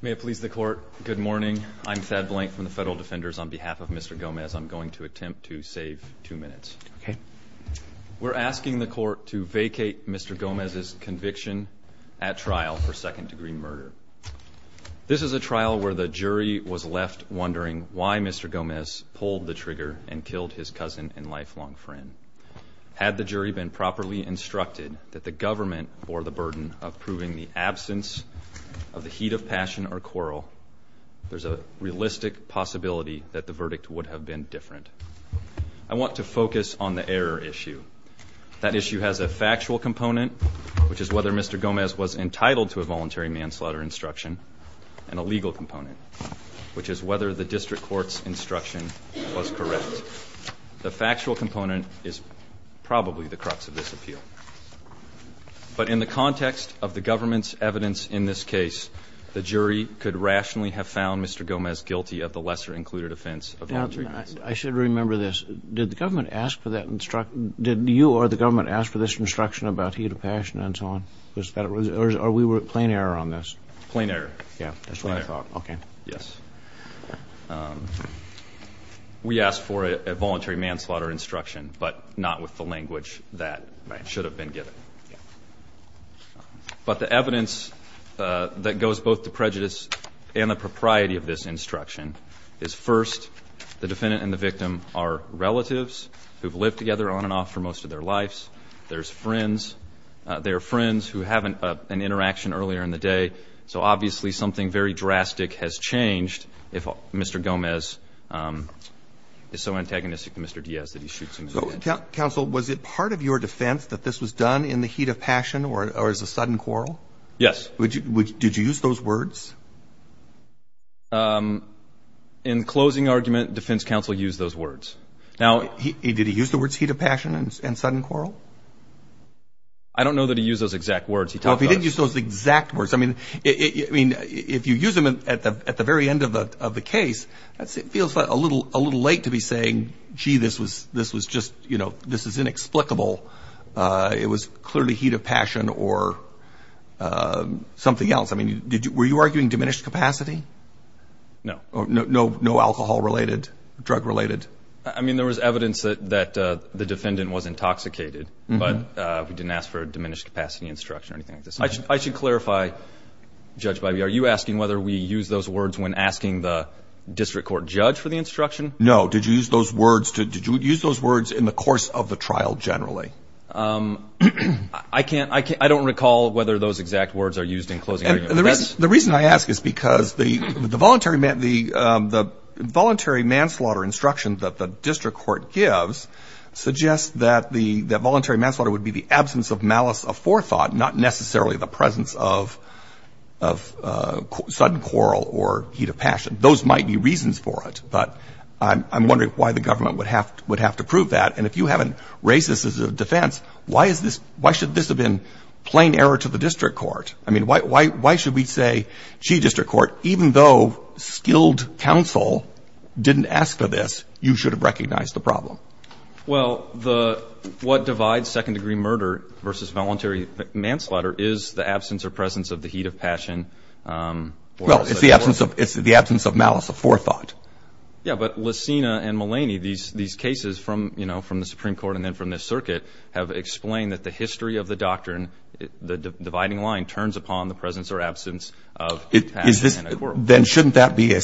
May it please the court. Good morning. I'm Thad Blank from the Federal Defenders. On behalf of Mr. Gomez, I'm going to attempt to save two minutes. We're asking the court to vacate Mr. Gomez's conviction at trial for second-degree murder. This is a trial where the jury was left wondering why Mr. Gomez pulled the trigger and killed his cousin and lifelong friend. Had the jury been properly instructed that the government bore the burden of proving the absence of the heat of passion or quarrel, there's a realistic possibility that the verdict would have been different. I want to focus on the error issue. That issue has a factual component, which is whether Mr. Gomez was entitled to a voluntary manslaughter instruction, and a legal component, which is whether the district court's instruction was correct. In other words, the factual component is probably the crux of this appeal. But in the context of the government's evidence in this case, the jury could rationally have found Mr. Gomez guilty of the lesser-included offense of voluntary manslaughter. I should remember this. Did the government ask for that instruction? Did you or the government ask for this instruction about heat of passion and so on? Or were we at plain error on this? Plain error. Yeah, that's what I thought. Okay. Yes. We asked for a voluntary manslaughter instruction, but not with the language that should have been given. Yeah. But the evidence that goes both to prejudice and the propriety of this instruction is, first, the defendant and the victim are relatives who have lived together on and off for most of their lives. They're friends who have an interaction earlier in the day, so obviously something very drastic has changed if Mr. Gomez is so antagonistic to Mr. Diaz that he shoots him in the head. Counsel, was it part of your defense that this was done in the heat of passion or as a sudden quarrel? Yes. Did you use those words? In closing argument, defense counsel used those words. Did he use the words heat of passion and sudden quarrel? I don't know that he used those exact words. Well, if he didn't use those exact words, I mean, if you use them at the very end of the case, it feels a little late to be saying, gee, this was just, you know, this is inexplicable. It was clearly heat of passion or something else. I mean, were you arguing diminished capacity? No. No alcohol-related, drug-related? I mean, there was evidence that the defendant was intoxicated, but we didn't ask for a diminished capacity instruction or anything like this. I should clarify, Judge Biby, are you asking whether we use those words when asking the district court judge for the instruction? No. Did you use those words in the course of the trial generally? I don't recall whether those exact words are used in closing argument. The reason I ask is because the voluntary manslaughter instruction that the district court gives suggests that the voluntary manslaughter would be the absence of malice of forethought, not necessarily the presence of sudden quarrel or heat of passion. Those might be reasons for it, but I'm wondering why the government would have to prove that. And if you haven't raised this as a defense, why should this have been plain error to the district court? I mean, why should we say, gee, district court, even though skilled counsel didn't ask for this, you should have recognized the problem? Well, what divides second-degree murder versus voluntary manslaughter is the absence or presence of the heat of passion. Well, it's the absence of malice of forethought. Yeah, but Lucina and Mulaney, these cases from the Supreme Court and then from this circuit, have explained that the history of the doctrine, the dividing line, turns upon the presence or absence of heat of passion and a quarrel. Then shouldn't that be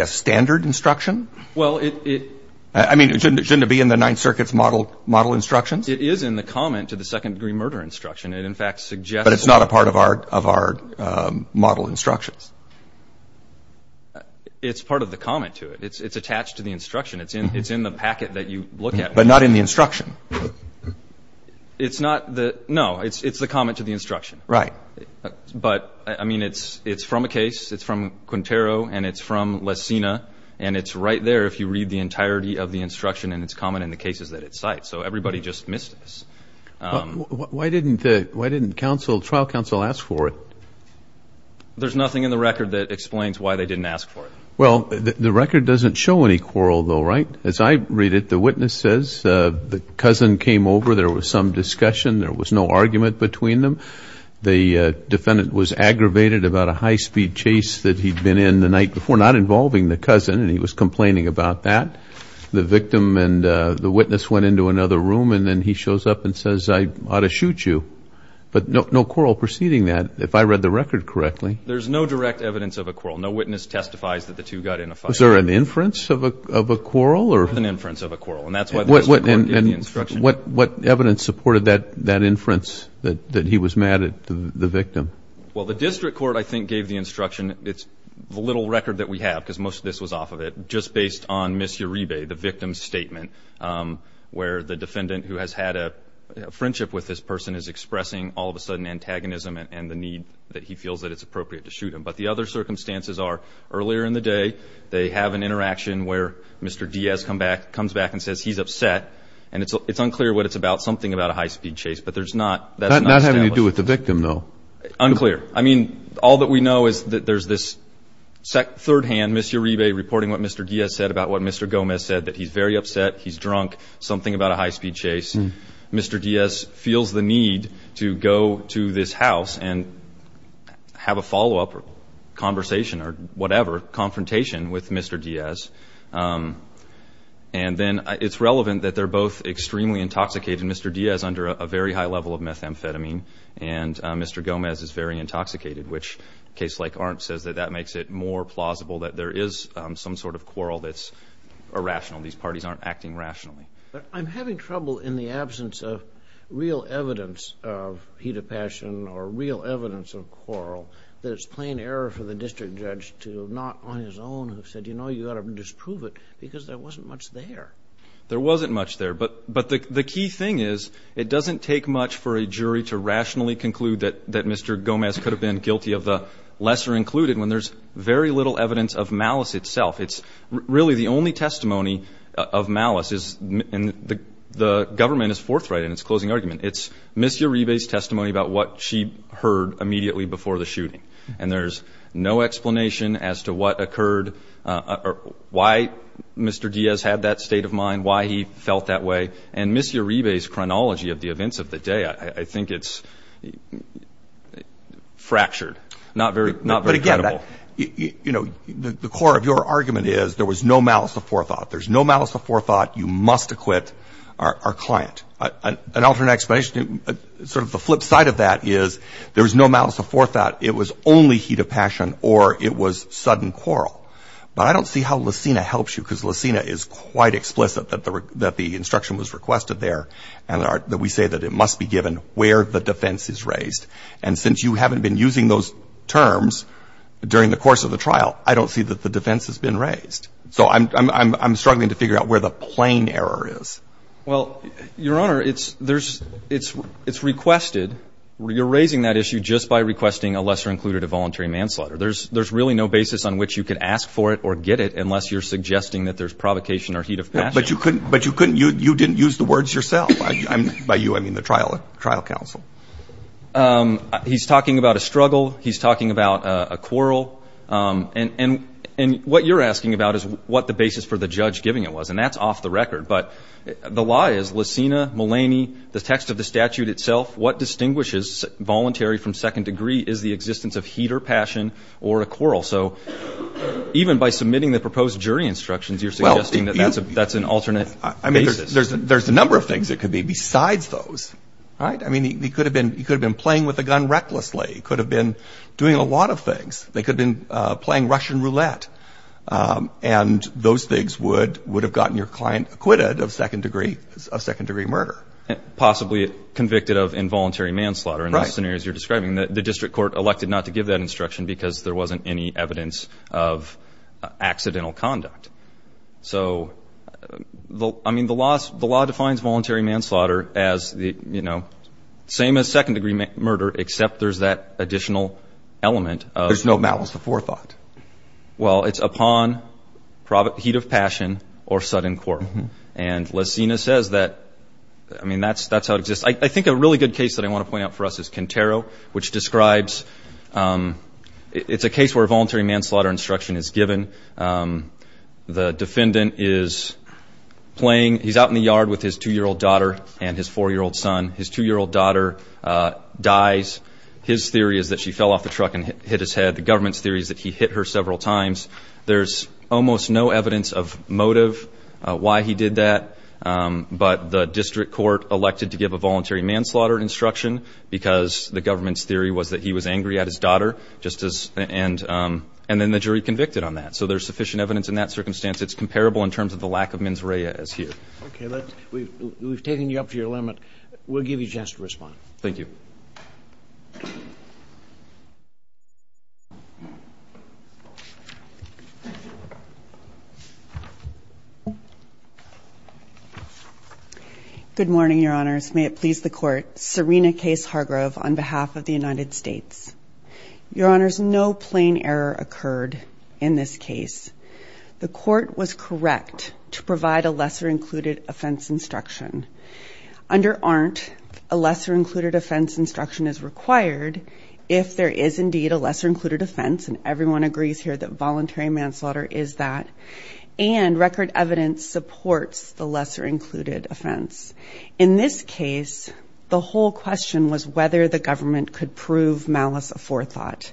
a standard instruction? Well, it — I mean, shouldn't it be in the Ninth Circuit's model instructions? It is in the comment to the second-degree murder instruction. It, in fact, suggests — But it's not a part of our model instructions. It's part of the comment to it. It's attached to the instruction. It's in the packet that you look at. But not in the instruction. It's not the — no, it's the comment to the instruction. Right. But, I mean, it's from a case. It's from Quintero, and it's from Lucina, and it's right there if you read the entirety of the instruction, and it's common in the cases that it cites. So everybody just missed this. Why didn't the trial counsel ask for it? There's nothing in the record that explains why they didn't ask for it. Well, the record doesn't show any quarrel, though, right? As I read it, the witness says the cousin came over. There was some discussion. There was no argument between them. The defendant was aggravated about a high-speed chase that he'd been in the night before, not involving the cousin, and he was complaining about that. The victim and the witness went into another room, and then he shows up and says, I ought to shoot you. But no quarrel preceding that, if I read the record correctly. There's no direct evidence of a quarrel. No witness testifies that the two got in a fight. Was there an inference of a quarrel? There was an inference of a quarrel, and that's why the district court gave the instruction. What evidence supported that inference, that he was mad at the victim? Well, the district court, I think, gave the instruction. It's the little record that we have, because most of this was off of it, just based on Miss Uribe, the victim's statement, where the defendant, who has had a friendship with this person, is expressing all of a sudden antagonism and the need that he feels that it's appropriate to shoot him. But the other circumstances are, earlier in the day, they have an interaction where Mr. Diaz comes back and says he's upset, and it's unclear what it's about, something about a high-speed chase. But there's not. That's not having to do with the victim, though. Unclear. I mean, all that we know is that there's this third hand, Miss Uribe, reporting what Mr. Diaz said about what Mr. Gomez said, that he's very upset, he's drunk, something about a high-speed chase. Mr. Diaz feels the need to go to this house and have a follow-up conversation or whatever, confrontation with Mr. Diaz. And then it's relevant that they're both extremely intoxicated. Mr. Diaz is under a very high level of methamphetamine, and Mr. Gomez is very intoxicated, which a case like Arndt says that that makes it more plausible that there is some sort of quarrel that's irrational. These parties aren't acting rationally. But I'm having trouble in the absence of real evidence of heat of passion or real evidence of quarrel that it's plain error for the district judge to, not on his own, who said, you know, you've got to disprove it because there wasn't much there. There wasn't much there. But the key thing is it doesn't take much for a jury to rationally conclude that Mr. Gomez could have been guilty of the lesser included when there's very little evidence of malice itself. It's really the only testimony of malice, and the government is forthright in its closing argument. It's Miss Uribe's testimony about what she heard immediately before the shooting, and there's no explanation as to what occurred or why Mr. Diaz had that state of mind, why he felt that way. And Miss Uribe's chronology of the events of the day, I think it's fractured, not very credible. But, again, you know, the core of your argument is there was no malice of forethought. There's no malice of forethought. You must acquit our client. An alternate explanation, sort of the flip side of that is there was no malice of forethought. It was only heat of passion or it was sudden quarrel. But I don't see how Lucina helps you, because Lucina is quite explicit that the instruction was requested there and that we say that it must be given where the defense is raised. And since you haven't been using those terms during the course of the trial, I don't see that the defense has been raised. So I'm struggling to figure out where the plain error is. Well, Your Honor, it's requested. You're raising that issue just by requesting a lesser-included involuntary manslaughter. There's really no basis on which you can ask for it or get it unless you're suggesting that there's provocation or heat of passion. But you didn't use the words yourself. By you, I mean the trial counsel. He's talking about a struggle. He's talking about a quarrel. And what you're asking about is what the basis for the judge giving it was, and that's off the record. But the lie is Lucina, Mulaney, the text of the statute itself, what distinguishes voluntary from second degree is the existence of heat or passion or a quarrel. So even by submitting the proposed jury instructions, you're suggesting that that's an alternate basis. I mean, there's a number of things that could be besides those. All right? I mean, he could have been playing with a gun recklessly. He could have been doing a lot of things. They could have been playing Russian roulette. And those things would have gotten your client acquitted of second degree murder. Possibly convicted of involuntary manslaughter in the scenarios you're describing. The district court elected not to give that instruction because there wasn't any evidence of accidental conduct. So, I mean, the law defines voluntary manslaughter as the, you know, same as second degree murder, except there's that additional element. There's no malice before thought. Well, it's upon heat of passion or sudden quarrel. And Lucina says that, I mean, that's how it exists. I think a really good case that I want to point out for us is Cantero, which describes it's a case where voluntary manslaughter instruction is given. The defendant is playing. He's out in the yard with his two-year-old daughter and his four-year-old son. His two-year-old daughter dies. His theory is that she fell off the truck and hit his head. The government's theory is that he hit her several times. There's almost no evidence of motive why he did that, but the district court elected to give a voluntary manslaughter instruction because the government's theory was that he was angry at his daughter. And then the jury convicted on that. So there's sufficient evidence in that circumstance. It's comparable in terms of the lack of mens rea as here. Okay. We've taken you up to your limit. We'll give you a chance to respond. Thank you. Good morning, Your Honors. May it please the court. Serena Case Hargrove on behalf of the United States. Your Honors, no plain error occurred in this case. The court was correct to provide a lesser-included offense instruction. Under ARNT, a lesser-included offense instruction is required if there is indeed a lesser-included offense instruction. And everyone agrees here that voluntary manslaughter is that. And record evidence supports the lesser-included offense. In this case, the whole question was whether the government could prove malice aforethought.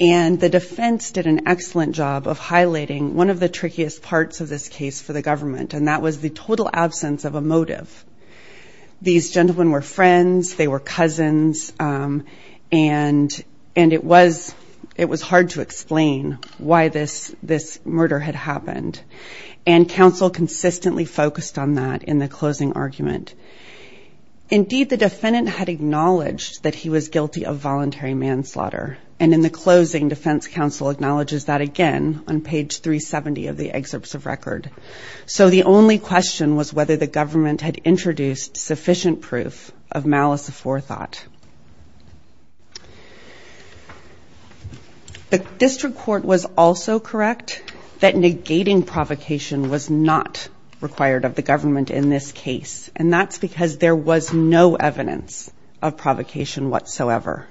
And the defense did an excellent job of highlighting one of the trickiest parts of this case for the government, and that was the total absence of a motive. These gentlemen were friends. They were cousins. And it was hard to explain why this murder had happened. And counsel consistently focused on that in the closing argument. Indeed, the defendant had acknowledged that he was guilty of voluntary manslaughter. And in the closing, defense counsel acknowledges that again on page 370 of the excerpts of record. So the only question was whether the government had introduced sufficient proof of malice aforethought. The district court was also correct that negating provocation was not required of the government in this case. And that's because there was no evidence of provocation whatsoever.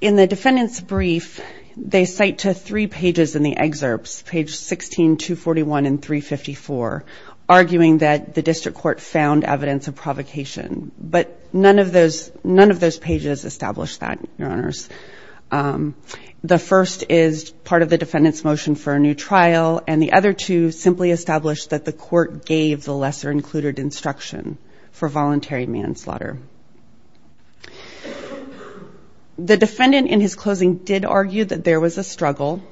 In the defendant's brief, they cite to three pages in the excerpts, page 16, 241 and 354, arguing that the district court found evidence of provocation. But none of those pages established that, Your Honors. The first is part of the defendant's motion for a new trial, and the other two simply established that the court gave the lesser-included instruction for voluntary manslaughter. The defendant in his closing did argue that there was a struggle,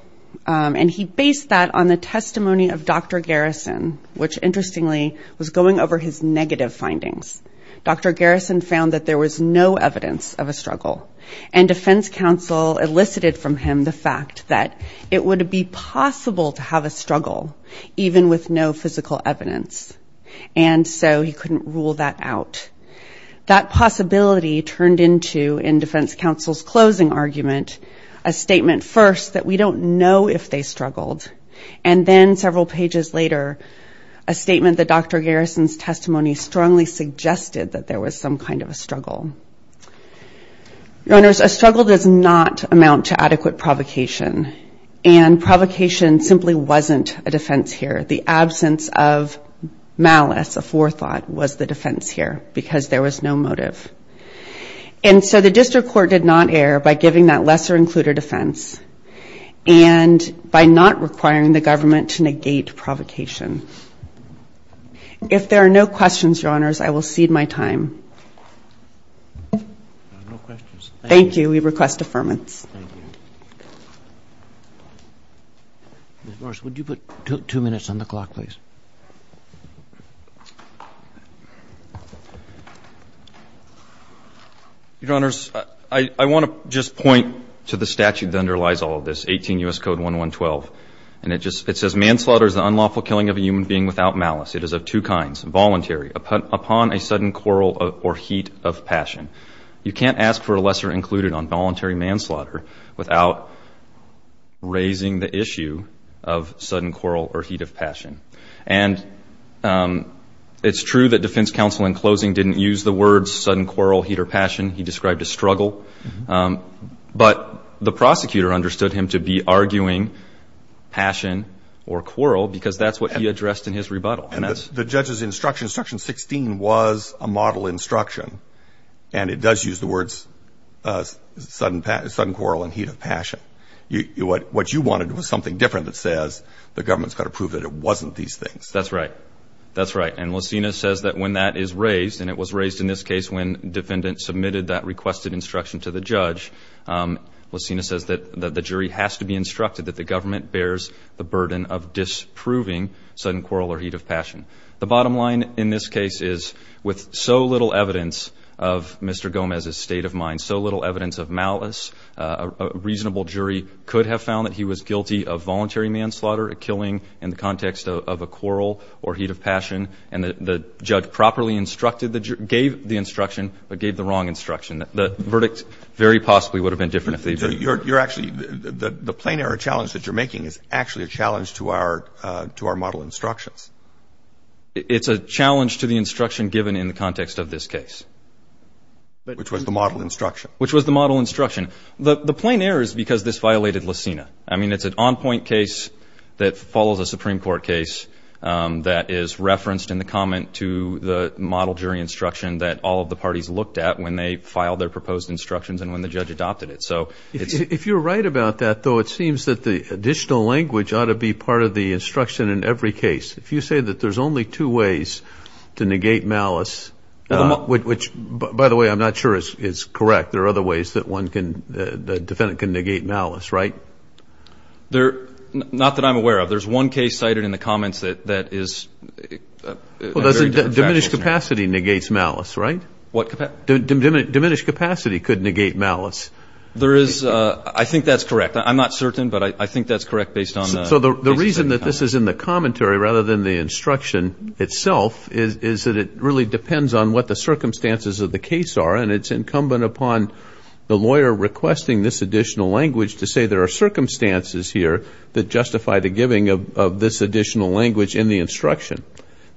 and he based that on the testimony of Dr. Garrison, which interestingly was going over his negative findings. Dr. Garrison found that there was no evidence of a struggle. And defense counsel elicited from him the fact that it would be possible to have a struggle even with no physical evidence. And so he couldn't rule that out. That possibility turned into, in defense counsel's closing argument, a statement first that we don't know if they struggled, and then several pages later, a statement that Dr. Garrison's testimony strongly suggested that there was some kind of a struggle. Your Honors, a struggle does not amount to adequate provocation, and provocation simply wasn't a defense here. The absence of malice, a forethought, was the defense here, because there was no motive. And so the district court did not err by giving that lesser-included defense, and by not requiring the government to negate provocation. If there are no questions, Your Honors, I will cede my time. No questions. Thank you. We request affirmance. Thank you. Ms. Morris, would you put two minutes on the clock, please? Your Honors, I want to just point to the statute that underlies all of this, 18 U.S. Code 1112. And it says, Manslaughter is the unlawful killing of a human being without malice. It is of two kinds. Voluntary, upon a sudden quarrel or heat of passion. You can't ask for a lesser-included on voluntary manslaughter without raising the issue of sudden quarrel or heat of passion. And it's true that defense counsel, in closing, didn't use the words sudden quarrel, heat, or passion. He described a struggle. But the prosecutor understood him to be arguing passion or quarrel, because that's what he addressed in his rebuttal. And the judge's instruction, instruction 16, was a model instruction. And it does use the words sudden quarrel and heat of passion. What you wanted was something different that says the government's got to prove that it wasn't these things. That's right. That's right. And Lucina says that when that is raised, and it was raised in this case when defendants submitted that requested instruction to the judge, Lucina says that the jury has to be instructed that the government bears the burden of disproving sudden quarrel or heat of passion. The bottom line in this case is, with so little evidence of Mr. Gomez's state of mind, so little evidence of malice, a reasonable jury could have found that he was guilty of voluntary manslaughter, a killing in the context of a quarrel or heat of passion. And the judge properly instructed the jury, gave the instruction, but gave the wrong instruction. The verdict very possibly would have been different. You're actually, the plain error challenge that you're making is actually a challenge to our model instructions. It's a challenge to the instruction given in the context of this case. Which was the model instruction. Which was the model instruction. The plain error is because this violated Lucina. I mean, it's an on-point case that follows a Supreme Court case that is referenced in the comment to the model jury instruction that all of the parties looked at when they filed their proposed instructions and when the judge adopted it. If you're right about that, though, it seems that the additional language ought to be part of the instruction in every case. If you say that there's only two ways to negate malice, which, by the way, I'm not sure is correct. There are other ways that the defendant can negate malice, right? Not that I'm aware of. There's one case cited in the comments that is very different. Diminished capacity negates malice, right? What capacity? Diminished capacity could negate malice. There is, I think that's correct. I'm not certain, but I think that's correct based on the case. So the reason that this is in the commentary rather than the instruction itself is that it really depends on what the circumstances of the case are. And it's incumbent upon the lawyer requesting this additional language to say there are circumstances here that justify the giving of this additional language in the instruction.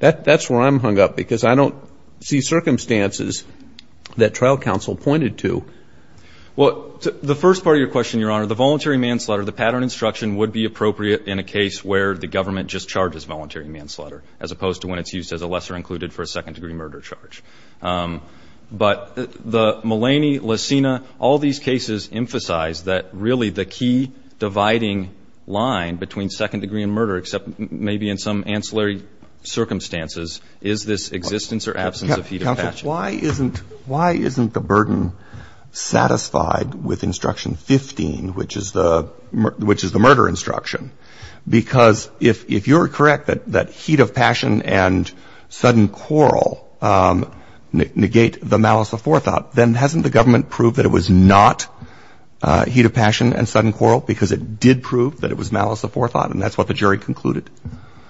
That's where I'm hung up because I don't see circumstances that trial counsel pointed to. Well, the first part of your question, Your Honor, the voluntary manslaughter, the pattern instruction would be appropriate in a case where the government just charges voluntary manslaughter as opposed to when it's used as a lesser included for a second-degree murder charge. But the Mulaney, Licina, all these cases emphasize that really the key dividing line between second-degree and murder, except maybe in some ancillary circumstances, is this existence or absence of heat of passion. Counsel, why isn't the burden satisfied with Instruction 15, which is the murder instruction? Because if you're correct that heat of passion and sudden quarrel, that's not negate the malice of forethought, then hasn't the government proved that it was not heat of passion and sudden quarrel? Because it did prove that it was malice of forethought, and that's what the jury concluded.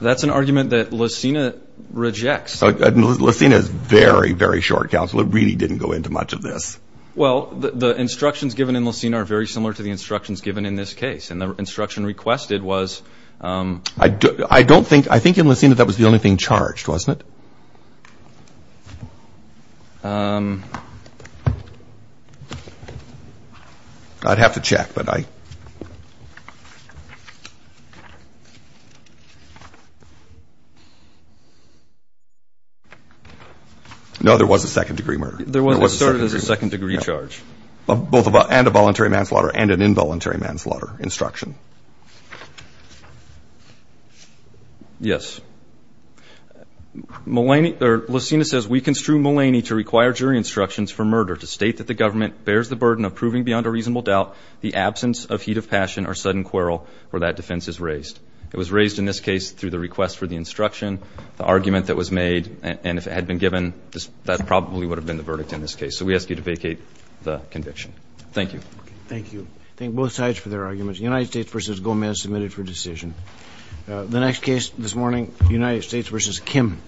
That's an argument that Licina rejects. Licina is very, very short, Counsel. It really didn't go into much of this. Well, the instructions given in Licina are very similar to the instructions given in this case. And the instruction requested was — I don't think — I think in Licina that was the only thing charged, wasn't it? I'd have to check, but I — No, there was a second-degree murder. There was. It started as a second-degree charge. Both — and a voluntary manslaughter and an involuntary manslaughter instruction. Yes. Malaney — or Licina says, We construe Malaney to require jury instructions for murder to state that the government bears the burden of proving beyond a reasonable doubt the absence of heat of passion or sudden quarrel where that defense is raised. It was raised in this case through the request for the instruction, the argument that was made, and if it had been given, that probably would have been the verdict in this case. So we ask you to vacate the conviction. Thank you. Thank you. Thank both sides for their arguments. The United States v. Gomez submitted for decision. The next case this morning, United States v. Kim.